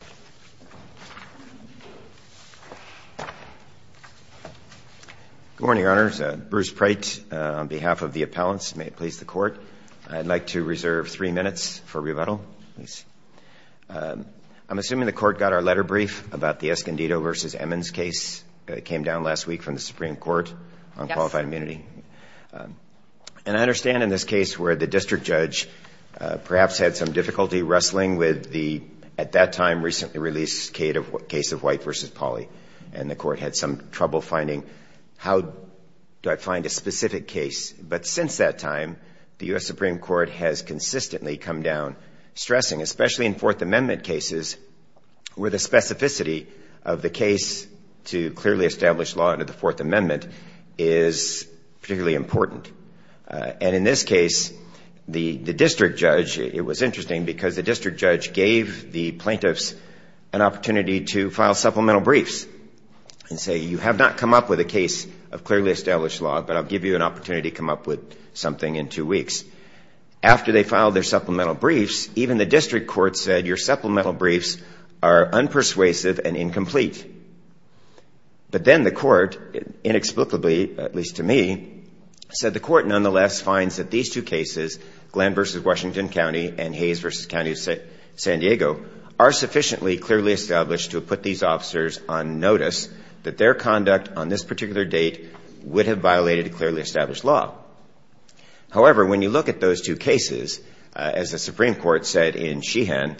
Good morning, Your Honors. Bruce Preit on behalf of the appellants. May it please the Court. I'd like to reserve three minutes for rebuttal. I'm assuming the Court got our letter brief about the Escondido v. Emmons case that came down last week from the Supreme Court on qualified immunity. And I understand in this case where the district judge perhaps had some difficulty wrestling with the, at that time, recently released case of White v. Pauley. And the Court had some trouble finding, how do I find a specific case? But since that time, the U.S. Supreme Court has consistently come down stressing, especially in Fourth Amendment cases, where the specificity of the case to clearly establish law under Fourth Amendment is particularly important. And in this case, the district judge, it was interesting because the district judge gave the plaintiffs an opportunity to file supplemental briefs and say, you have not come up with a case of clearly established law, but I'll give you an opportunity to come up with something in two weeks. After they filed their supplemental briefs, even the district court said, your supplemental briefs are unpersuasive and incomplete. But then the Court, inexplicably, at least to me, said the Court nonetheless finds that these two cases, Glenn v. Washington County and Hayes v. County of San Diego, are sufficiently clearly established to put these officers on notice that their conduct on this particular date would have violated clearly established law. However, when you look at those two cases, as the Supreme Court said in Sheehan,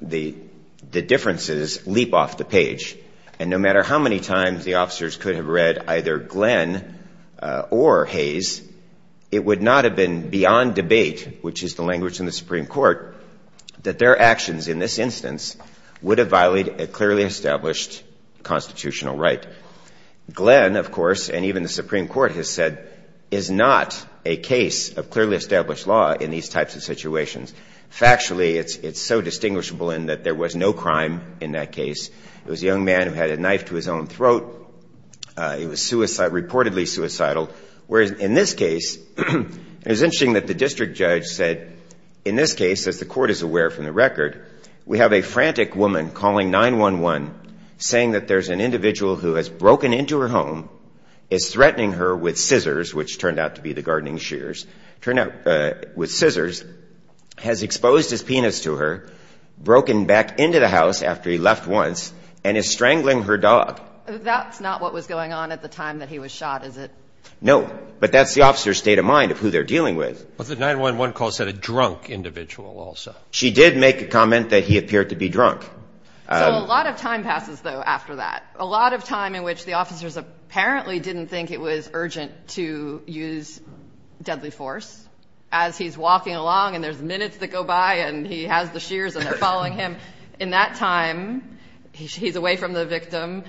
the differences leap off the page. And no matter how many times the officers could have read either Glenn or Hayes, it would not have been beyond debate, which is the language in the Supreme Court, that their actions in this instance would have violated a clearly established constitutional right. Glenn, of course, and even the Supreme Court has said, is not a case of clearly established law in these types of situations. Factually, it's so distinguishable in that there was no crime in that case. It was a young man who had a knife to his own throat. It was suicide, reportedly suicidal. Whereas in this case, it was interesting that the district judge said, in this case, as the Court is saying that there's an individual who has broken into her home, is threatening her with scissors, which turned out to be the gardening shears, turned out with scissors, has exposed his penis to her, broken back into the house after he left once, and is strangling her dog. That's not what was going on at the time that he was shot, is it? No. But that's the officer's state of mind of who they're dealing with. But the 9-1-1 call said a drunk individual also. She did make a comment that he appeared to be drunk. So a lot of time passes, though, after that. A lot of time in which the officers apparently didn't think it was urgent to use deadly force. As he's walking along and there's minutes that go by and he has the shears and they're following him. In that time, he's away from the victim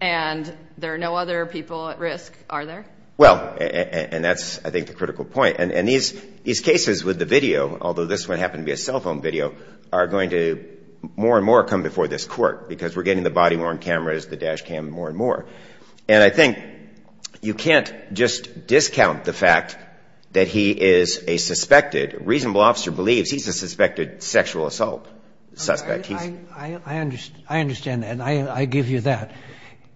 and there are no other people at risk, are there? Well, and that's, I think, the critical point. And these cases with the video, although this one happened to be a cell phone video, are going to more and more come before this court because we're getting the body-worn cameras, the dash cam, more and more. And I think you can't just discount the fact that he is a suspected, a reasonable officer believes he's a suspected sexual assault suspect. I understand that. And I give you that.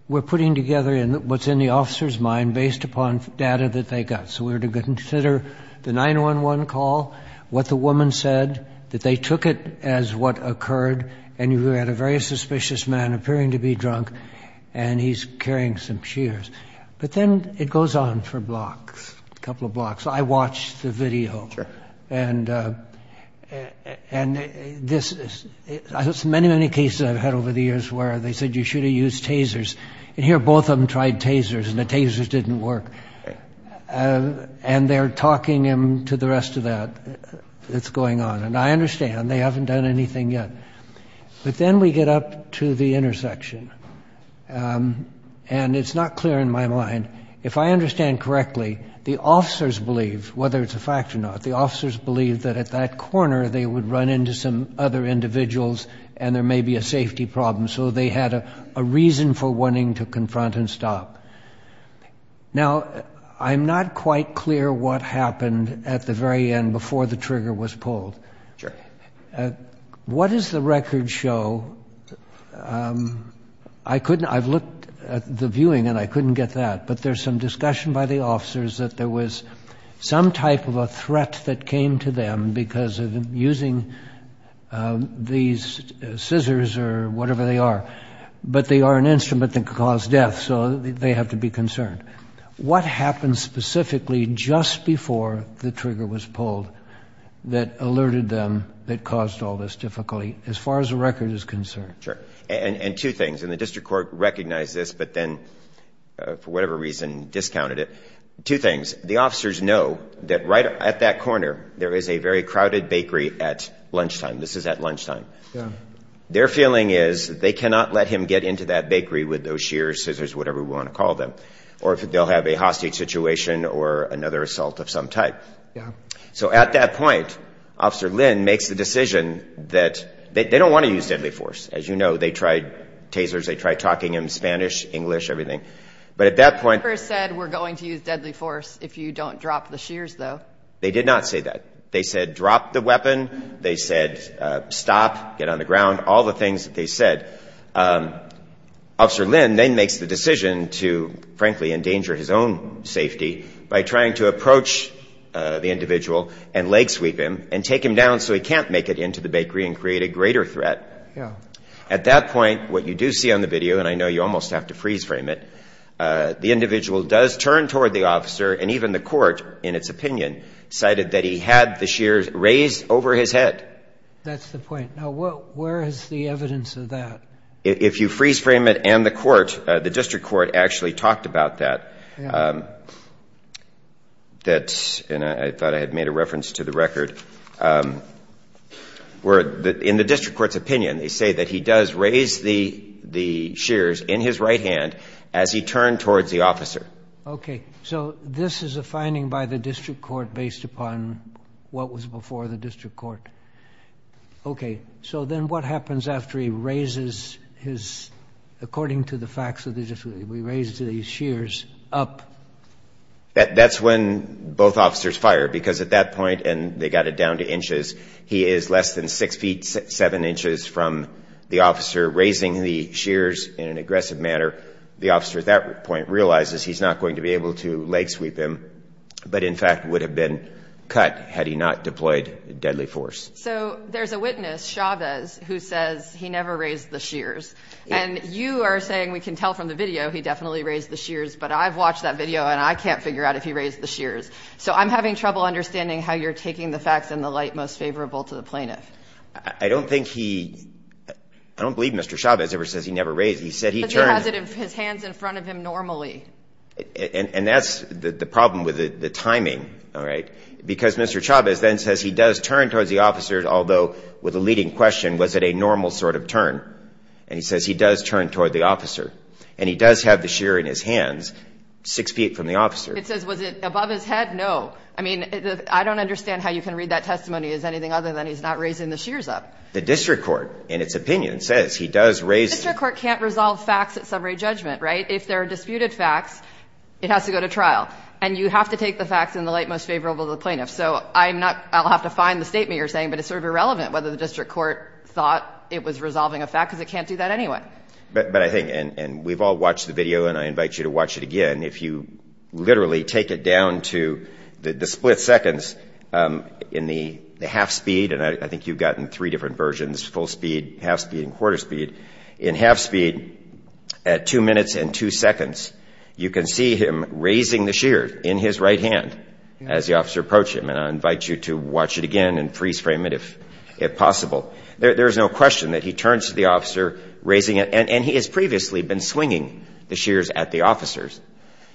We're putting together what's in the officer's mind based upon data that they got. So we're to consider the 9-1-1 call, what the woman said, that they took it as what occurred, and you had a very suspicious man appearing to be drunk and he's carrying some shears. But then it goes on for blocks, a couple of blocks. I watched the video and this is, I have many, many cases I've had over the years where they said you should have used tasers. And here both of them tried tasers and the tasers didn't work. And they're talking him to the rest of that that's going on. And I understand, they haven't done anything yet. But then we get up to the intersection and it's not clear in my mind, if I understand correctly, the officers believe, whether it's a fact or not, the officers believe that at that corner they would run into some other individuals and there may be a safety problem. So they had a reason for wanting to confront and stop. Now, I'm not quite clear what happened at the very end before the trigger was pulled. What does the record show? I couldn't, I've looked at the viewing and I couldn't get that. But there's some discussion by the officers that there was some type of a threat that came to them because of using these scissors or whatever they are. But they are an instrument that could cause death. So they have to be concerned. What happened specifically just before the trigger was pulled that alerted them that caused all this difficulty as far as the record is concerned? Sure. And two things. And the District Court recognized this but then, for whatever reason, discounted it. Two things. The officers know that right at that corner there is a very crowded bakery at lunchtime. This is at lunchtime. Their feeling is they cannot let him get into that bakery with those shears, scissors, whatever we want to call them. Or if they'll have a hostage situation or another assault of some type. Yeah. So at that point, Officer Lin makes the decision that they don't want to use deadly force. As you know, they tried tasers, they tried talking in Spanish, English, everything. But at that point... They never said we're going to use deadly force if you don't drop the shears though. They did not say that. They said drop the shears. Officer Lin then makes the decision to, frankly, endanger his own safety by trying to approach the individual and leg sweep him and take him down so he can't make it into the bakery and create a greater threat. Yeah. At that point, what you do see on the video, and I know you almost have to freeze frame it, the individual does turn toward the officer and even the court, in its opinion, cited that he had the shears raised over his head. That's the point. Now where is the evidence of that? If you freeze frame it and the court, the district court actually talked about that. That's, and I thought I had made a reference to the record, where in the district court's opinion, they say that he does raise the the shears in his right hand as he turned towards the officer. Okay. So this is a finding by the district court based upon what was before the district court. Okay. So then what happens after he raises his, according to the facts of the district, he raises the shears up? That's when both officers fire, because at that point, and they got it down to inches, he is less than six feet seven inches from the officer raising the shears in an aggressive manner. The officer at that point realizes he's not going to be able to leg sweep him, but in fact would have been cut had he not deployed deadly force. So there's a witness, Chavez, who says he never raised the shears. And you are saying, we can tell from the video, he definitely raised the shears, but I've watched that video and I can't figure out if he raised the shears. So I'm having trouble understanding how you're taking the facts in the light most favorable to the plaintiff. I don't think he, I don't believe Mr. Chavez ever says he never raised, he said he turned. Because he has his hands in front of him normally. And that's the problem with the timing. All right. Because Mr. Chavez then says he does turn towards the officers, although with a leading question, was it a normal sort of turn? And he says he does turn toward the officer. And he does have the shear in his hands, six feet from the officer. It says, was it above his head? No. I mean, I don't understand how you can read that testimony as anything other than he's not raising the shears up. The district court, in its opinion, says he does raise. The district court can't resolve facts at summary judgment, right? If there are disputed facts, it has to go to trial. And you have to take the facts in the light most favorable to the plaintiff. So I'm not, I'll have to find the statement you're saying, but it's sort of irrelevant whether the district court thought it was resolving a fact, because it can't do that anyway. But I think, and we've all watched the video, and I invite you to watch it again. If you literally take it down to the split seconds in the half speed, and I think you've gotten three different versions, full speed, half speed, and quarter speed. In half speed, at two minutes and two seconds, you can see him raising the shears in his right hand as the officer approached him. And I invite you to watch it again and freeze frame it if possible. There's no question that he turns to the officer, raising it, and he has previously been swinging the shears at the officers.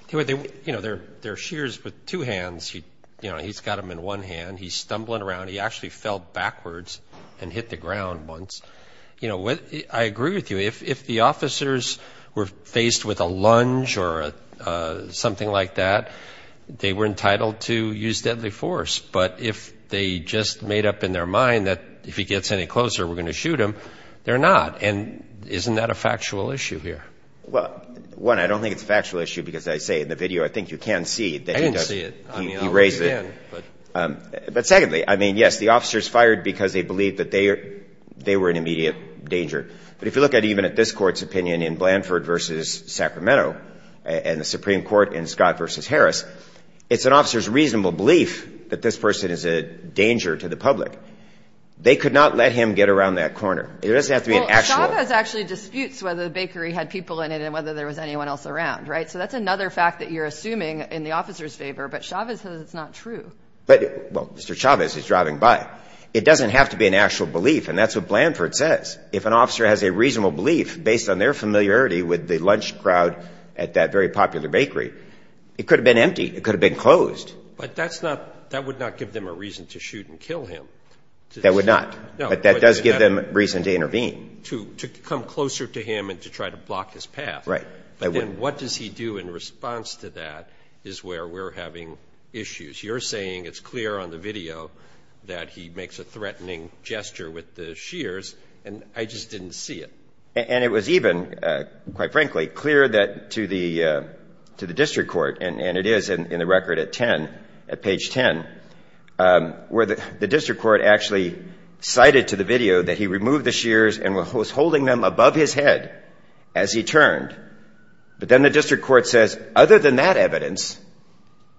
There are shears with two hands. He's got them in one hand. He's stumbling around. He actually fell backwards and hit the ground once. I agree with you. If the officers were faced with a lunge or something like that, they were entitled to use deadly force. But if they just made up in their mind that if he gets any closer, we're going to shoot him, they're not. And isn't that a factual issue here? Well, one, I don't think it's a factual issue, because I say in the video, I think you can see that he raised it. But secondly, I mean, yes, the officers fired because they believed that they were in immediate danger. But if you look at even at this Court's opinion in Blanford v. Sacramento and the Supreme Court in Scott v. Harris, it's an officer's reasonable belief that this person is a danger to the public. They could not let him get around that corner. It doesn't have to be an actual one. Well, Chavez actually disputes whether the bakery had people in it and whether there was anyone else around, right? So that's another fact that you're assuming in the officer's favor. But Chavez says it's not true. But, well, Mr. Chavez is driving by. It doesn't have to be an actual belief. And that's what Blanford says. If an officer has a reasonable belief based on their familiarity with the lunch crowd at that very popular bakery, it could have been empty. It could have been closed. But that's not – that would not give them a reason to shoot and kill him. That would not. But that does give them reason to intervene. To come closer to him and to try to block his path. Right. But then what does he do in response to that is where we're having issues. You're saying it's clear on the video that he makes a threatening gesture with the shears. And I just didn't see it. And it was even, quite frankly, clear that to the district court, and it is in the record at 10, at page 10, where the district court actually cited to the video that he removed the shears and was holding them above his head as he turned. But then the district court says, other than that evidence,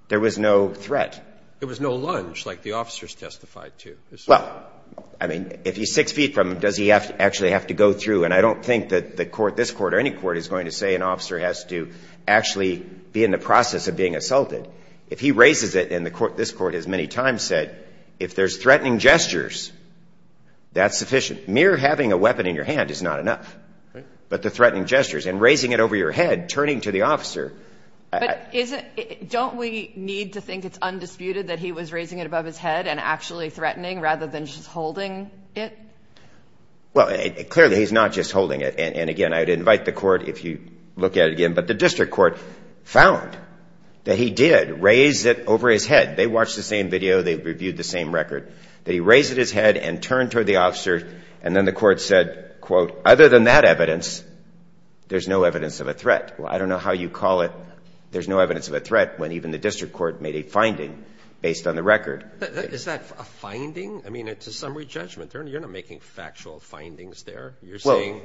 there was no threat. There was no lunge like the officers testified to. Well, I mean, if he's six feet from him, does he actually have to go through? And I don't think that the court, this court or any court, is going to say an officer has to actually be in the process of being assaulted. If he raises it, and this court has many times said, if there's threatening gestures, that's sufficient. Mere having a weapon in your hand is not enough. But the threatening gestures and raising it over your head, turning to the officer. Don't we need to think it's undisputed that he was raising it above his head and actually threatening rather than just holding it? Well, clearly, he's not just holding it. And again, I'd invite the court if you look at it again. But the district court found that he did raise it over his head. They watched the same video. They reviewed the same record that he raised his head and turned to the officer. And then the court said, quote, other than that evidence, there's no evidence of a threat. Well, I don't know how you call it. There's no evidence of a threat when even the district court made a finding based on the record. Is that a finding? I mean, it's a summary judgment. You're not making factual findings there. You're saying,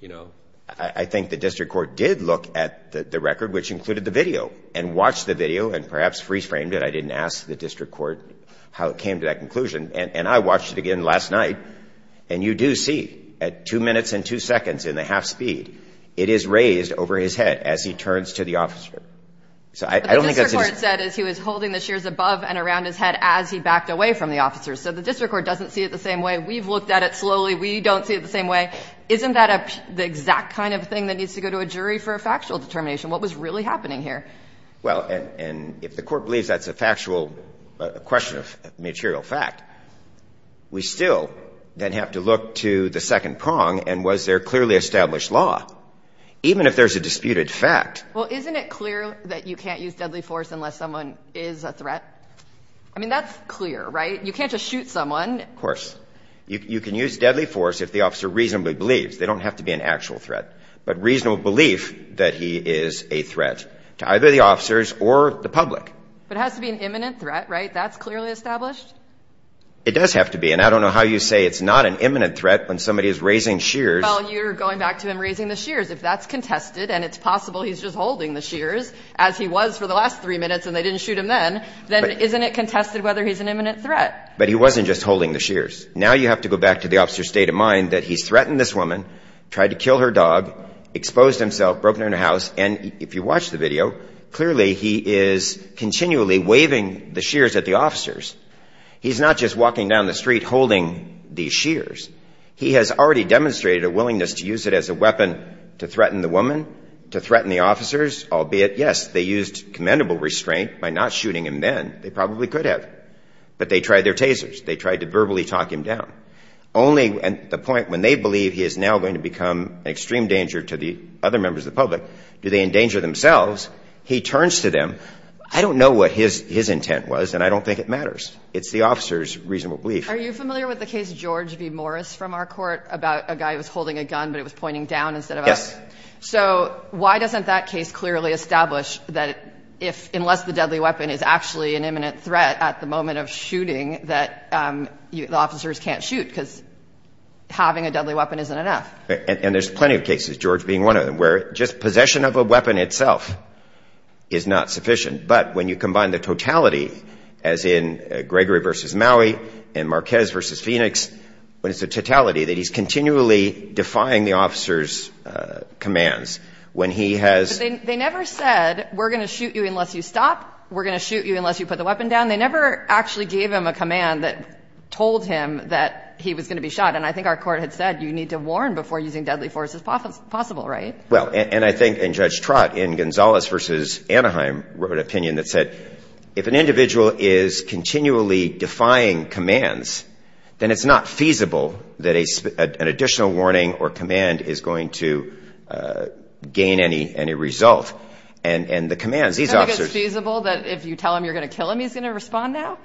you know. I think the district court did look at the record, which included the video, and watched the video, and perhaps reframed it. I didn't ask the district court how it came to that conclusion. And I watched it again last night. And you do see, at two minutes and two seconds in the half speed, it is raised over his head as he turns to the officer. So I don't think that's a. The district court said is he was holding the shears above and around his head as he backed away from the officer. So the district court doesn't see it the same way. We've looked at it slowly. We don't see it the same way. Isn't that the exact kind of thing that needs to go to a jury for a factual determination? What was really happening here? Well, and if the court believes that's a factual question of material fact, we still then have to look to the second prong, and was there clearly established law? Even if there's a disputed fact. Well, isn't it clear that you can't use deadly force unless someone is a threat? I mean, that's clear, right? You can't just shoot someone. Of course. You can use deadly force if the officer reasonably believes. They don't have to be an actual threat. But reasonable belief that he is a threat to either the officers or the public. But it has to be an imminent threat, right? That's clearly established? It does have to be, and I don't know how you say it's not an imminent threat when somebody is raising shears. Well, you're going back to him raising the shears. If that's contested and it's possible he's just holding the shears, as he was for the last three minutes and they didn't shoot him then, then isn't it contested whether he's an imminent threat? But he wasn't just holding the shears. Now you have to go back to the officer's state of mind that he's threatened this dog, exposed himself, broke into a house, and if you watch the video, clearly he is continually waving the shears at the officers. He's not just walking down the street holding these shears. He has already demonstrated a willingness to use it as a weapon to threaten the woman, to threaten the officers, albeit, yes, they used commendable restraint by not shooting him then. They probably could have. But they tried their tasers. They tried to verbally talk him down. Only at the point when they believe he is now going to become an extreme danger to the other members of the public, do they endanger themselves, he turns to them. I don't know what his intent was, and I don't think it matters. It's the officer's reasonable belief. Are you familiar with the case George v. Morris from our court about a guy who was holding a gun, but it was pointing down instead of up? Yes. So why doesn't that case clearly establish that if, unless the deadly weapon is actually an imminent threat at the moment of shooting, that the officers can't shoot because having a deadly weapon isn't enough. And there's plenty of cases, George being one of them, where just possession of a weapon itself is not sufficient. But when you combine the totality, as in Gregory v. Maui and Marquez v. Phoenix, when it's a totality that he's continually defying the officer's commands. When he has- They never said, we're going to shoot you unless you stop. We're going to shoot you unless you put the weapon down. They never actually gave him a command that told him that he was going to be shot. And I think our court had said, you need to warn before using deadly force is possible, right? Well, and I think in Judge Trott in Gonzalez v. Anaheim wrote an opinion that said, if an individual is continually defying commands, then it's not feasible that an additional warning or command is going to gain any result. And the commands, these officers- Do they respond now?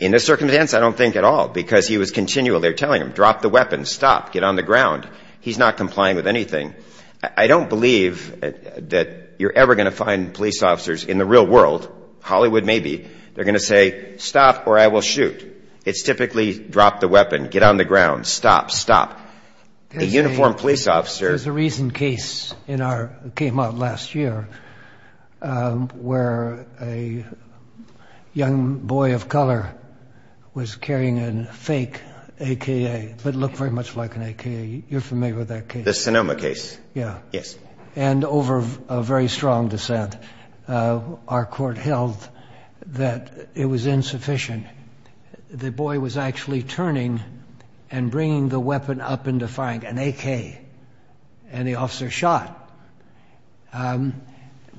In this circumstance, I don't think at all, because he was continually telling him, drop the weapon, stop, get on the ground. He's not complying with anything. I don't believe that you're ever going to find police officers in the real world, Hollywood maybe, they're going to say, stop or I will shoot. It's typically drop the weapon, get on the ground, stop, stop. A uniformed police officer- Young boy of color was carrying a fake AK, but looked very much like an AK, you're familiar with that case? The Sonoma case. Yeah. Yes. And over a very strong dissent, our court held that it was insufficient. The boy was actually turning and bringing the weapon up and defying, an AK. And the officer shot.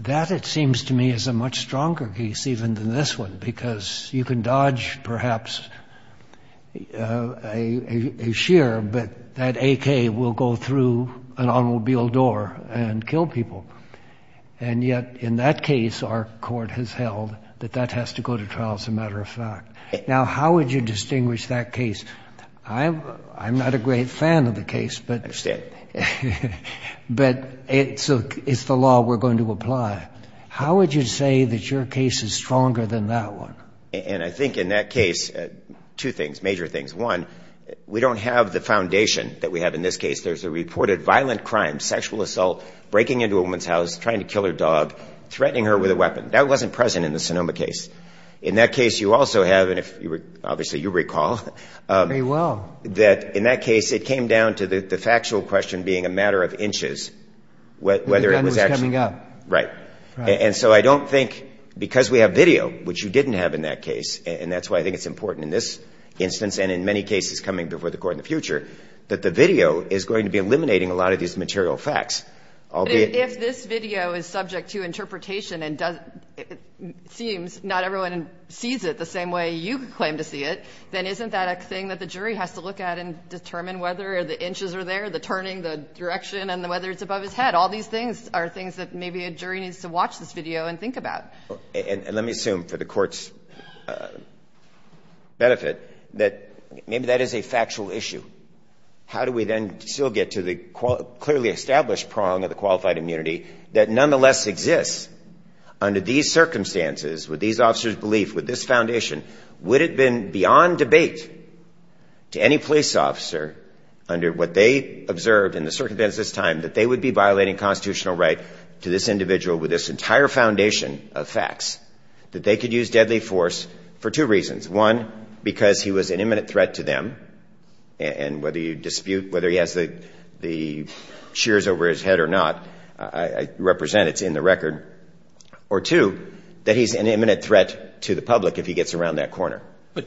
That, it seems to me, is a much stronger case, even than this one, because you can dodge, perhaps, a shear, but that AK will go through an automobile door and kill people. And yet, in that case, our court has held that that has to go to trial, as a matter of fact. Now, how would you distinguish that case? I'm not a great fan of the case, but- I understand. But it's the law we're going to apply. How would you say that your case is stronger than that one? And I think in that case, two things, major things. One, we don't have the foundation that we have in this case. There's a reported violent crime, sexual assault, breaking into a woman's house, trying to kill her dog, threatening her with a weapon. That wasn't present in the Sonoma case. In that case, you also have, and obviously you recall- Very well. That in that case, it came down to the factual question being a matter of inches. Whether it was actually- The gun was coming out. Right. And so I don't think, because we have video, which you didn't have in that case, and that's why I think it's important in this instance, and in many cases coming before the court in the future, that the video is going to be eliminating a lot of these material facts. I'll be- If this video is subject to interpretation, and it seems not everyone sees it the same way you claim to see it, then isn't that a thing that the jury has to look at and determine whether the inches are there, the turning, the direction, and whether it's above his head? All these things are things that maybe a jury needs to watch this video and think about. And let me assume for the court's benefit that maybe that is a factual issue. How do we then still get to the clearly established prong of the qualified immunity that nonetheless exists under these circumstances, with these officers' belief, with this foundation, would it have been beyond debate to any police officer, under what they observed in the circumstances at this time, that they would be violating constitutional right to this individual with this entire foundation of facts, that they could use deadly force for two reasons. One, because he was an imminent threat to them. And whether you dispute whether he has the shears over his head or not, I represent it's in the record. Or two, that he's an imminent threat to the public if he gets around that corner. But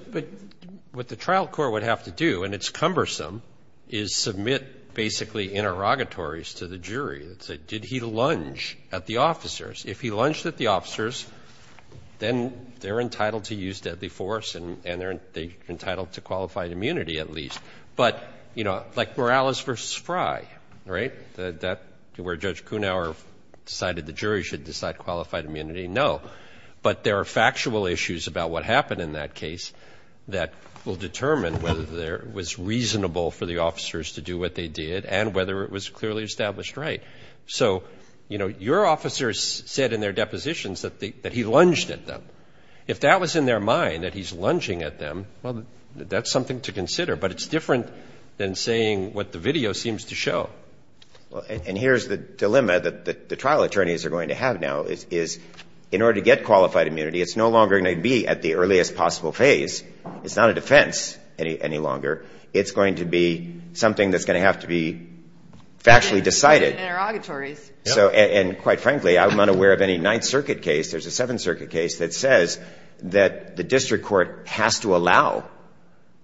what the trial court would have to do, and it's cumbersome, is submit basically interrogatories to the jury. Did he lunge at the officers? If he lunged at the officers, then they're entitled to use deadly force and they're entitled to qualified immunity at least. But like Morales versus Fry, right? That where Judge Kunauer decided the jury should decide qualified immunity, no. But there are factual issues about what happened in that case that will determine whether it was reasonable for the officers to do what they did and whether it was clearly established right. So your officers said in their depositions that he lunged at them. If that was in their mind, that he's lunging at them, well, that's something to consider. But it's different than saying what the video seems to show. And here's the dilemma that the trial attorneys are going to have now is, in order to get qualified immunity, it's no longer going to be at the earliest possible phase. It's not a defense any longer. It's going to be something that's going to have to be factually decided. Interrogatories. So, and quite frankly, I'm unaware of any Ninth Circuit case, there's a Seventh Circuit case that says that the district court has to allow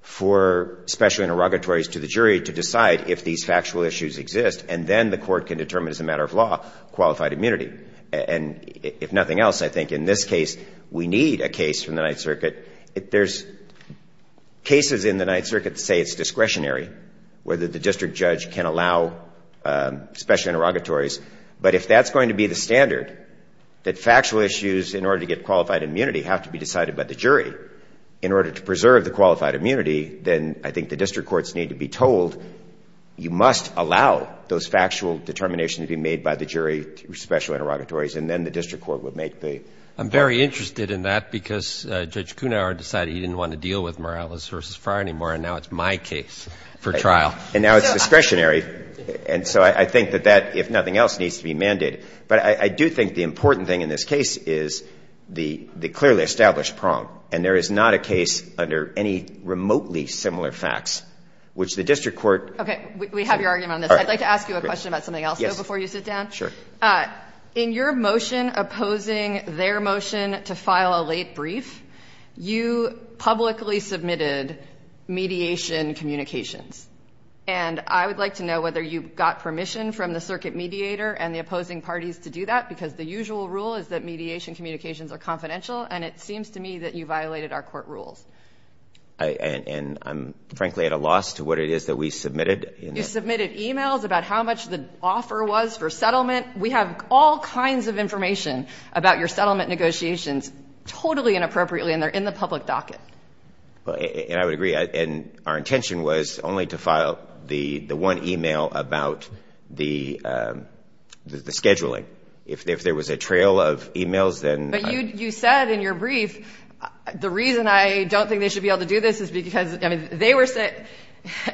for special interrogatories to the jury to decide if these factual issues exist. And then the court can determine as a matter of law, qualified immunity. And if nothing else, I think in this case, we need a case from the Ninth Circuit. There's cases in the Ninth Circuit that say it's discretionary, whether the district judge can allow special interrogatories. But if that's going to be the standard, that factual issues in order to get qualified immunity have to be decided by the jury. In order to preserve the qualified immunity, then I think the district courts need to be told, you must allow those factual determinations to be made by the jury through special interrogatories. And then the district court would make the- I'm very interested in that because Judge Kuhnhauer decided he didn't want to deal with Morales versus Fry anymore, and now it's my case for trial. And now it's discretionary. And so I think that that, if nothing else, needs to be mended. But I do think the important thing in this case is the clearly established prong. And there is not a case under any remotely similar facts, which the district court- Okay, we have your argument on this. I'd like to ask you a question about something else, though, before you sit down. Sure. In your motion opposing their motion to file a late brief, you publicly submitted mediation communications. And I would like to know whether you got permission from the circuit mediator and the opposing parties to do that, because the usual rule is that mediation communications are confidential. And it seems to me that you violated our court rules. And I'm frankly at a loss to what it is that we submitted. You submitted emails about how much the offer was for settlement. We have all kinds of information about your settlement negotiations, totally inappropriately, and they're in the public docket. And I would agree. And our intention was only to file the one email about the scheduling. If there was a trail of emails, then- But you said in your brief, the reason I don't think they should be able to do this is because, I mean, they were sent-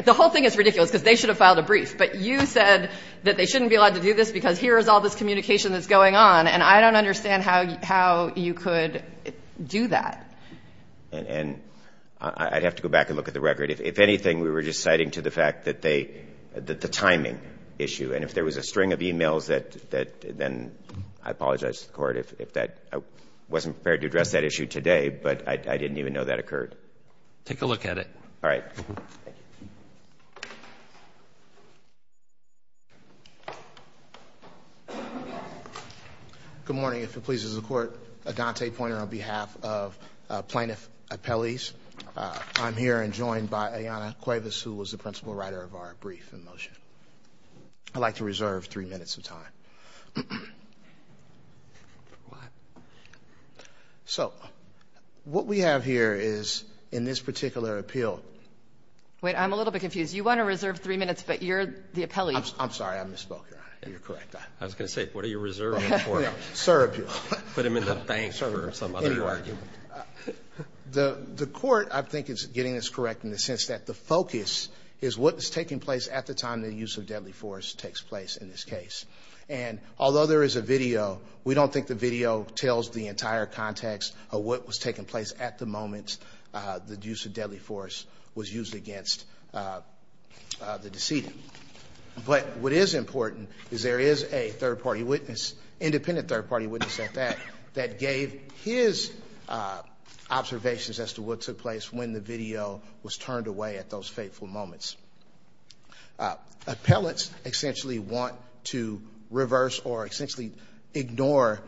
The whole thing is ridiculous, because they should have filed a brief. But you said that they shouldn't be allowed to do this because here is all this communication that's going on. And I don't understand how you could do that. And I'd have to go back and look at the record. If anything, we were just citing to the fact that the timing issue. And if there was a string of emails, then I apologize to the court if I wasn't prepared to address that issue today. But I didn't even know that occurred. Take a look at it. All right. Good morning. If it pleases the court, Adante Poynter on behalf of Plaintiff Appellees. I'm here and joined by Ayanna Cuevas, who was the principal writer of our brief in motion. I'd like to reserve three minutes of time. So, what we have here is, in this particular appeal- Wait, I'm a little bit confused. You want to reserve three minutes, but you're the appellee. I'm sorry, I misspoke, Your Honor. You're correct. I was going to say, what are you reserving for? Sir, appeal. Put him in the bank for some other argument. The court, I think, is getting this correct in the sense that the focus is what is taking place at the time the use of deadly force takes place in this case. And although there is a video, we don't think the video tells the entire context of what was taking place at the moment the use of deadly force was used against the decedent. But what is important is there is a third-party witness, independent third-party witness at that, that gave his observations as to what took place when the video was turned away at those fateful moments. Appellants essentially want to reverse or essentially ignore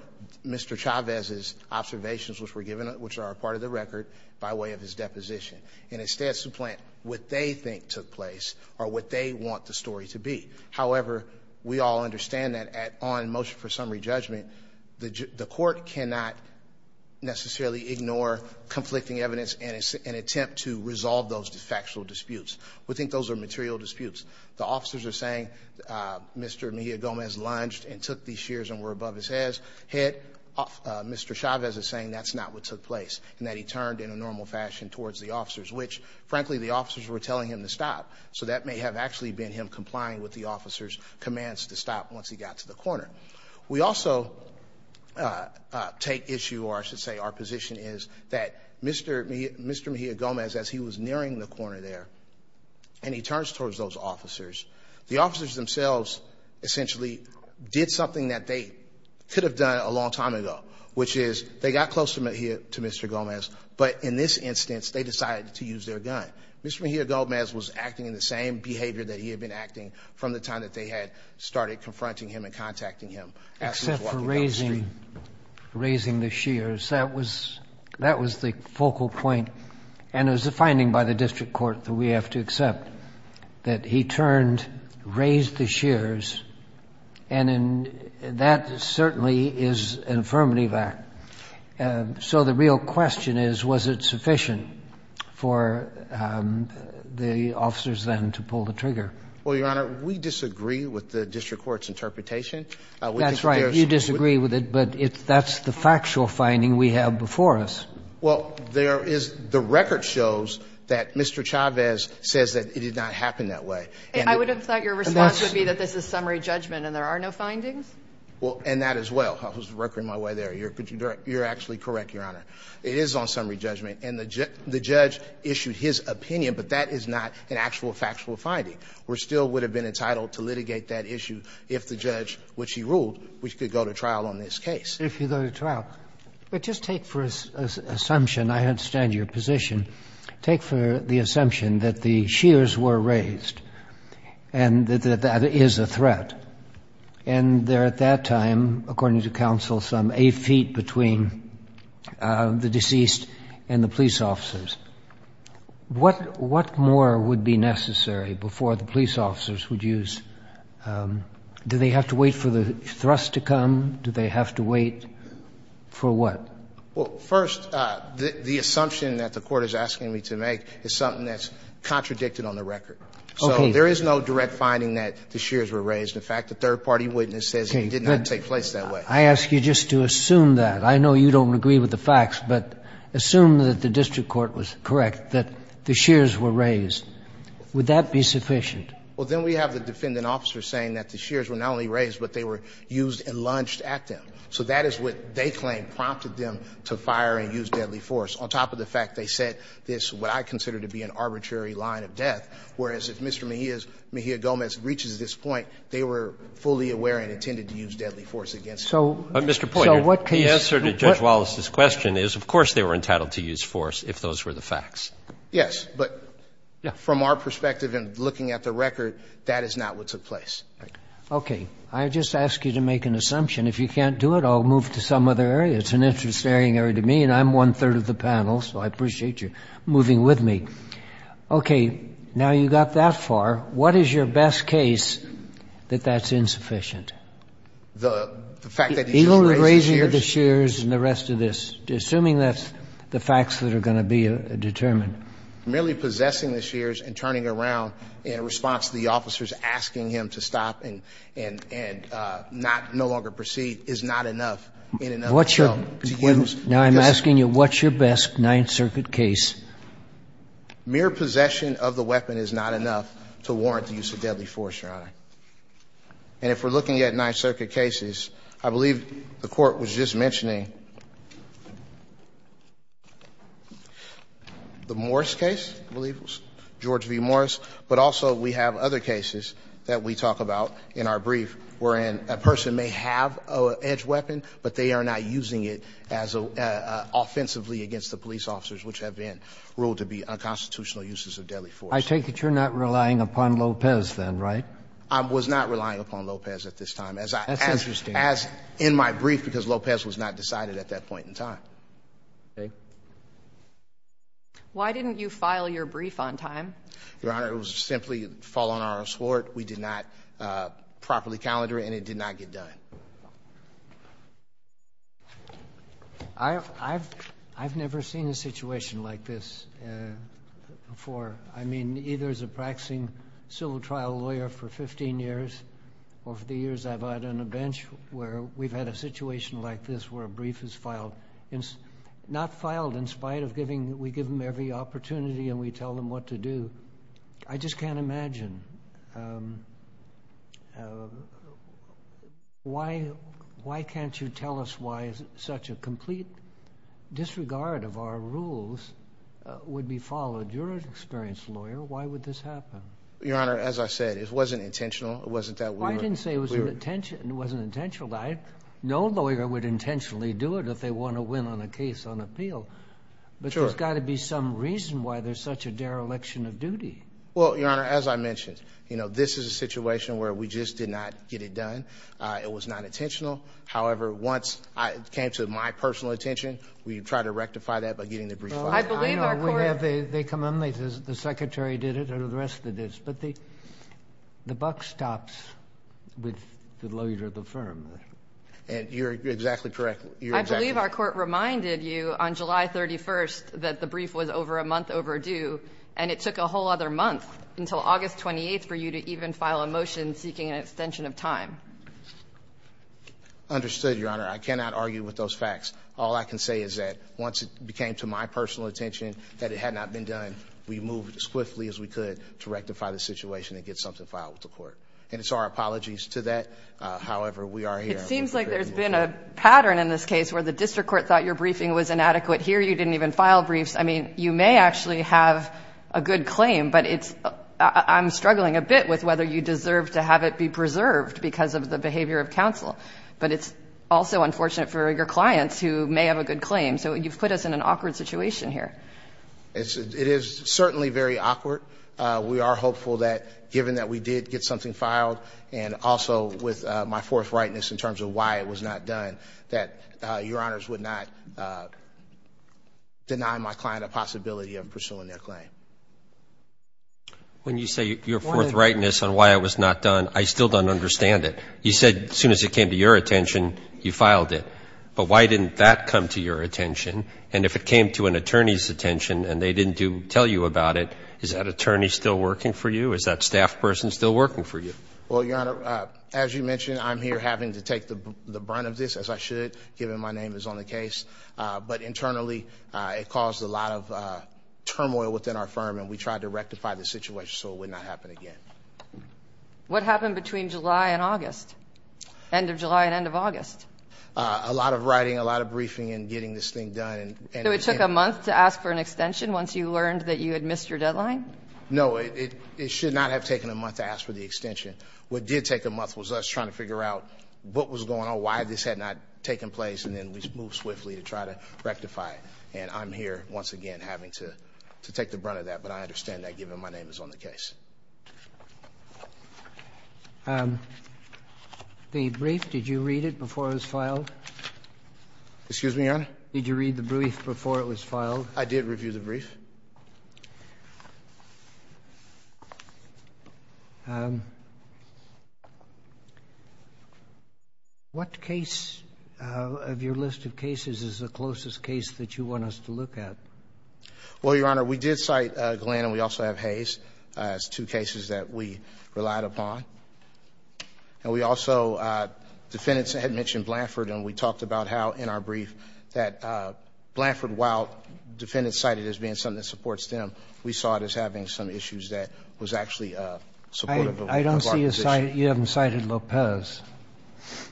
Mr. Chavez's observations which were given, which are a part of the record, by way of his deposition. And instead supplant what they think took place or what they want the story to be. However, we all understand that on motion for summary judgment, the court cannot necessarily ignore conflicting evidence in an attempt to resolve those factual disputes. We think those are material disputes. The officers are saying Mr. Mejia Gomez lunged and took these shears and were above his head. Mr. Chavez is saying that's not what took place and that he turned in a normal fashion towards the officers. Which, frankly, the officers were telling him to stop. So that may have actually been him complying with the officer's commands to stop once he got to the corner. We also take issue, or I should say our position is, that Mr. Mejia Gomez, as he was nearing the corner there, and he turns towards those officers. The officers themselves essentially did something that they could have done a long time ago, which is they got close to Mr. Gomez, but in this instance they decided to use their gun. Mr. Mejia Gomez was acting in the same behavior that he had been acting from the time that they had started confronting him and contacting him. Except for raising the shears, that was the focal point. And it was a finding by the district court that we have to accept, that he turned, raised the shears, and that certainly is an affirmative act. So the real question is, was it sufficient for the officers then to pull the trigger? Well, Your Honor, we disagree with the district court's interpretation. That's right, you disagree with it, but that's the factual finding we have before us. Well, there is, the record shows that Mr. Chavez says that it did not happen that way. I would have thought your response would be that this is summary judgment and there are no findings? Well, and that as well, I was working my way there, you're actually correct, Your Honor. It is on summary judgment, and the judge issued his opinion, but that is not an actual factual finding. We still would have been entitled to litigate that issue if the judge, which he ruled, which could go to trial on this case. If you go to trial. But just take for assumption, I understand your position, take for the assumption that the shears were raised and that that is a threat. And there at that time, according to counsel, some eight feet between the deceased and the police officers. What more would be necessary before the police officers would use, do they have to wait for the thrust to come? Do they have to wait for what? Well, first, the assumption that the court is asking me to make is something that's contradicted on the record. Okay. So there is no direct finding that the shears were raised. In fact, the third party witness says it did not take place that way. I ask you just to assume that. I know you don't agree with the facts, but assume that the district court was correct, that the shears were raised. Would that be sufficient? Well, then we have the defendant officer saying that the shears were not only raised, but they were used and lunged at them. So that is what they claim prompted them to fire and use deadly force. On top of the fact they said this, what I consider to be an arbitrary line of death, whereas if Mr. Mejia Gomez reaches this point, they were fully aware and intended to use deadly force against him. So what can you say? The answer to Judge Wallace's question is, of course, they were entitled to use force if those were the facts. Yes. But from our perspective and looking at the record, that is not what took place. Okay. I just ask you to make an assumption. If you can't do it, I'll move to some other area. It's an interesting area to me, and I'm one-third of the panel, so I appreciate you moving with me. Okay. Now you got that far. What is your best case that that's insufficient? The fact that he was raising the shears and the rest of this, assuming that's the facts that are going to be determined. Merely possessing the shears and turning around in response to the officers asking him to stop and no longer proceed is not enough in and of itself. Now I'm asking you, what's your best Ninth Circuit case? Mere possession of the weapon is not enough to warrant the use of deadly force, Your Honor. And if we're looking at Ninth Circuit cases, I believe the Court was just mentioning the Morris case, I believe it was, George V. Morris. But also we have other cases that we talk about in our brief wherein a person may have an edge weapon, but they are not using it as an offensively against the police officers, which have been ruled to be unconstitutional uses of deadly force. I take it you're not relying upon Lopez then, right? I was not relying upon Lopez at this time, as in my brief, because Lopez was not decided at that point in time. Why didn't you file your brief on time? Your Honor, it was simply a fall on our assort. We did not properly calendar it, and it did not get done. I've never seen a situation like this before. I mean, either as a practicing civil trial lawyer for 15 years, or for the years I've had on a bench, where we've had a situation like this where a brief is filed. Not filed in spite of giving, we give them every opportunity and we tell them what to do. I just can't imagine. Why can't you tell us why such a complete disregard of our rules would be followed? You're an experienced lawyer. Why would this happen? Your Honor, as I said, it wasn't intentional. It wasn't that we were- I didn't say it wasn't intentional. No lawyer would intentionally do it if they want to win on a case on appeal. But there's got to be some reason why there's such a dereliction of duty. Well, Your Honor, as I mentioned, this is a situation where we just did not get it done. It was not intentional. However, once it came to my personal attention, we tried to rectify that by getting the brief filed. I believe our court- I know, they come in, they say the secretary did it, and the rest of this. But the buck stops with the lawyer of the firm. And you're exactly correct. I believe our court reminded you on July 31st that the brief was over a month overdue, and it took a whole other month until August 28th for you to even file a motion seeking an extension of time. Understood, Your Honor. I cannot argue with those facts. All I can say is that once it came to my personal attention that it had not been done, we moved as quickly as we could to rectify the situation and get something filed with the court. And it's our apologies to that. However, we are here- It seems like there's been a pattern in this case where the district court thought your briefing was inadequate. Here, you didn't even file briefs. I mean, you may actually have a good claim, but I'm struggling a bit with whether you deserve to have it be preserved because of the behavior of counsel. But it's also unfortunate for your clients who may have a good claim. So you've put us in an awkward situation here. It is certainly very awkward. We are hopeful that given that we did get something filed, and also with my forthrightness in terms of why it was not done, that Your Honors would not deny my client a possibility of pursuing their claim. When you say your forthrightness on why it was not done, I still don't understand it. You said as soon as it came to your attention, you filed it. But why didn't that come to your attention? And if it came to an attorney's attention and they didn't tell you about it, is that attorney still working for you? Is that staff person still working for you? Well, Your Honor, as you mentioned, I'm here having to take the brunt of this, as I should, given my name is on the case. But internally, it caused a lot of turmoil within our firm, and we tried to rectify the situation so it would not happen again. What happened between July and August, end of July and end of August? A lot of writing, a lot of briefing, and getting this thing done. So it took a month to ask for an extension once you learned that you had missed your deadline? No, it should not have taken a month to ask for the extension. What did take a month was us trying to figure out what was going on, why this had not taken place, and then we moved swiftly to try to rectify it. And I'm here, once again, having to take the brunt of that, but I understand that given my name is on the case. The brief, did you read it before it was filed? Excuse me, Your Honor? Did you read the brief before it was filed? I did review the brief. What case of your list of cases is the closest case that you want us to look at? Well, Your Honor, we did cite Glenn, and we also have Hayes as two cases that we relied upon. And we also, defendants had mentioned Blanford, and we talked about how in our brief that Blanford, while defendants cite it as being something that supports them, we saw it as having some issues that was actually supportive of our position. I don't see you citing you haven't cited Lopez.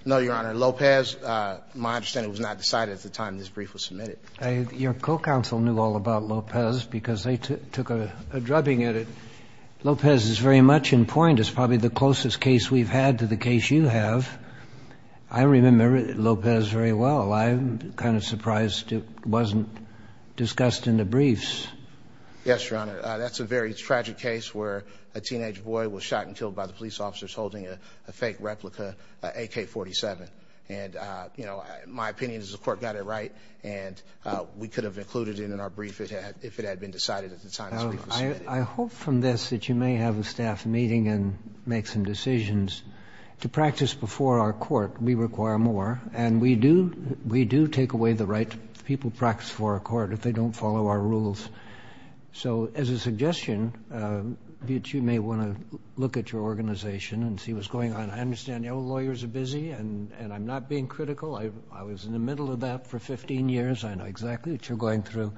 No, Your Honor. Lopez, my understanding, was not decided at the time this brief was submitted. Your co-counsel knew all about Lopez because they took a drubbing at it. Lopez is very much in point. It's probably the closest case we've had to the case you have. I remember Lopez very well. I'm kind of surprised it wasn't discussed in the briefs. Yes, Your Honor. That's a very tragic case where a teenage boy was shot and killed by the police officers holding a fake replica AK-47. And, you know, my opinion is the Court got it right, and we could have included it in our brief if it had been decided at the time this brief was submitted. I hope from this that you may have a staff meeting and make some decisions. To practice before our Court, we require more, and we do take away the right people to practice before our Court if they don't follow our rules. So as a suggestion, you may want to look at your organization and see what's going on. I understand your lawyers are busy, and I'm not being critical. I was in the middle of that for 15 years. I know exactly what you're going through.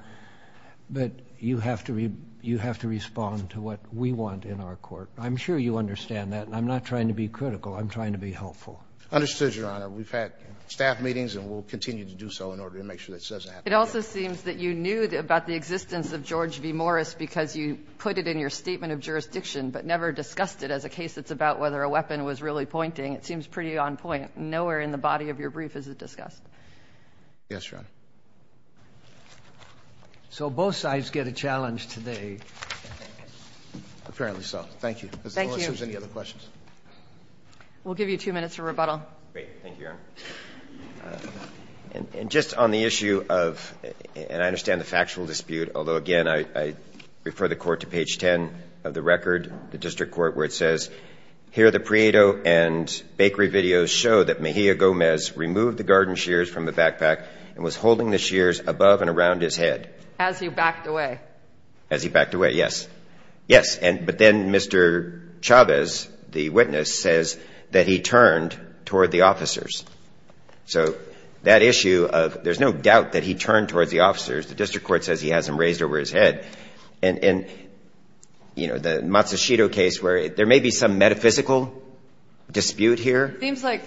But you have to respond to what we want in our Court. I'm sure you understand that. I'm not trying to be critical. I'm trying to be helpful. Understood, Your Honor. We've had staff meetings, and we'll continue to do so in order to make sure this doesn't happen again. It also seems that you knew about the existence of George v. Morris because you put it in your statement of jurisdiction, but never discussed it as a case that's about whether a weapon was really pointing. It seems pretty on point. Nowhere in the body of your brief is it discussed. Yes, Your Honor. So both sides get a challenge today. Apparently so. Thank you. Ms. Norris, any other questions? We'll give you two minutes for rebuttal. Thank you, Your Honor. And just on the issue of — and I understand the factual dispute, although, again, I refer the Court to page 10 of the record, the district court, where it says, here the Prieto and Bakery videos show that Mejia Gomez removed the garden shears from the backpack and was holding the shears above and around his head. As he backed away. As he backed away, yes. Yes. But then Mr. Chavez, the witness, says that he turned toward the officers. So that issue of there's no doubt that he turned towards the officers. The district court says he has them raised over his head. And, you know, the Matsushita case where there may be some metaphysical dispute here. It seems like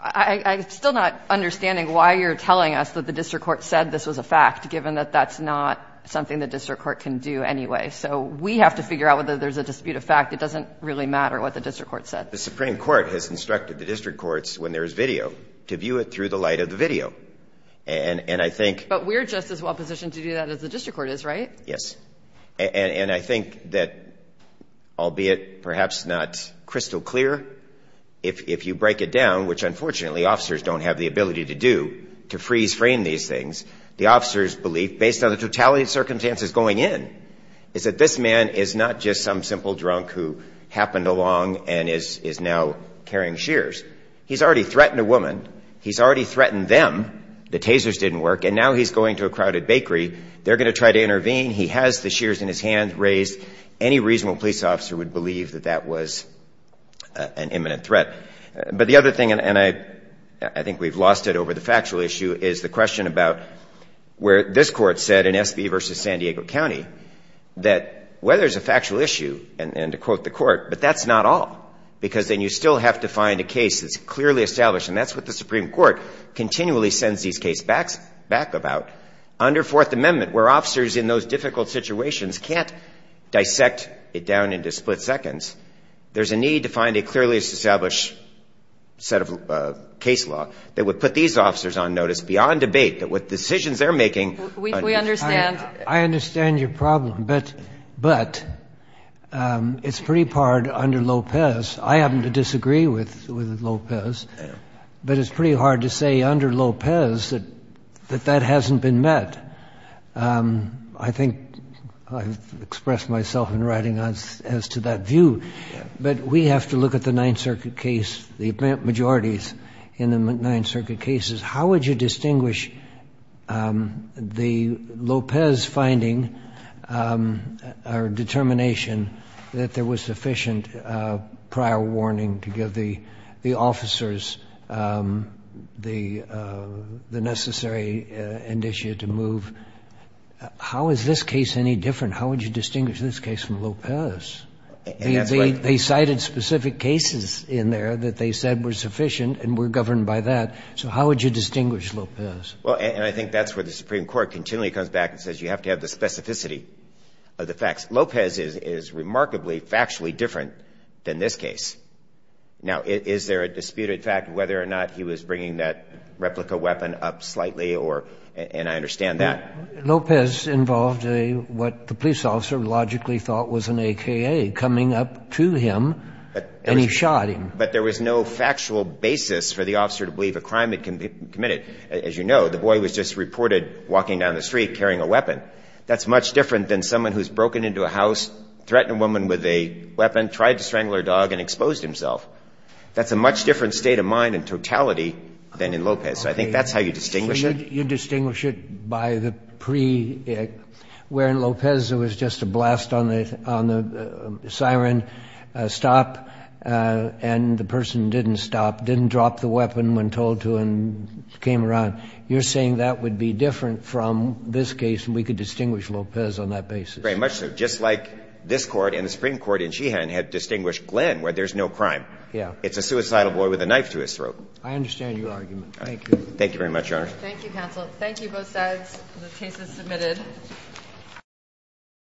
I'm still not understanding why you're telling us that the district court said this was a fact, given that that's not something the district court can do anyway. So we have to figure out whether there's a dispute of fact. It doesn't really matter what the district court said. The Supreme Court has instructed the district courts, when there is video, to view it through the light of the video. And I think — But we're just as well positioned to do that as the district court is, right? Yes. And I think that, albeit perhaps not crystal clear, if you break it down, which unfortunately officers don't have the ability to do, to freeze frame these things, the officers' belief, based on the totality of circumstances going in, is that this man is not just some simple drunk who happened along and is now carrying shears. He's already threatened a woman. He's already threatened them. The tasers didn't work. And now he's going to a crowded bakery. They're going to try to intervene. He has the shears in his hand raised. Any reasonable police officer would believe that that was an imminent threat. But the other thing, and I think we've lost it over the factual issue, is the case where this court said in S.B. v. San Diego County that whether it's a factual issue, and to quote the court, but that's not all, because then you still have to find a case that's clearly established. And that's what the Supreme Court continually sends these cases back about. Under Fourth Amendment, where officers in those difficult situations can't dissect it down into split seconds, there's a need to find a clearly established set of case law that would put these officers on notice beyond debate, that would put them on notice. And that's what the Supreme Court is trying to do with decisions they're making. We understand. I understand your problem. But it's pretty hard under Lopez. I happen to disagree with Lopez. But it's pretty hard to say under Lopez that that hasn't been met. I think I've expressed myself in writing as to that view. But we have to look at the Ninth Circuit case, the majorities in the Ninth Circuit cases. How would you distinguish the Lopez finding or determination that there was sufficient prior warning to give the officers the necessary indicia to move? How is this case any different? How would you distinguish this case from Lopez? They cited specific cases in there that they said were sufficient and were governed by that. So how would you distinguish Lopez? Well, and I think that's where the Supreme Court continually comes back and says you have to have the specificity of the facts. Lopez is remarkably factually different than this case. Now, is there a disputed fact whether or not he was bringing that replica weapon up slightly? And I understand that. Lopez involved what the police officer logically thought was an AKA coming up to him and he shot him. But there was no factual basis for the officer to believe a crime had been committed. As you know, the boy was just reported walking down the street carrying a weapon. That's much different than someone who's broken into a house, threatened a woman with a weapon, tried to strangle her dog and exposed himself. That's a much different state of mind in totality than in Lopez. So I think that's how you distinguish it. You distinguish it by the pre-where in Lopez there was just a blast on the siren stop and the person didn't stop, didn't drop the weapon when told to and came around. You're saying that would be different from this case and we could distinguish Lopez on that basis. Very much so. Just like this Court and the Supreme Court in Sheehan had distinguished Glenn where there's no crime. Yeah. It's a suicidal boy with a knife to his throat. I understand your argument. Thank you. Thank you very much, Your Honor. Thank you, counsel. Thank you both sides. The case is submitted.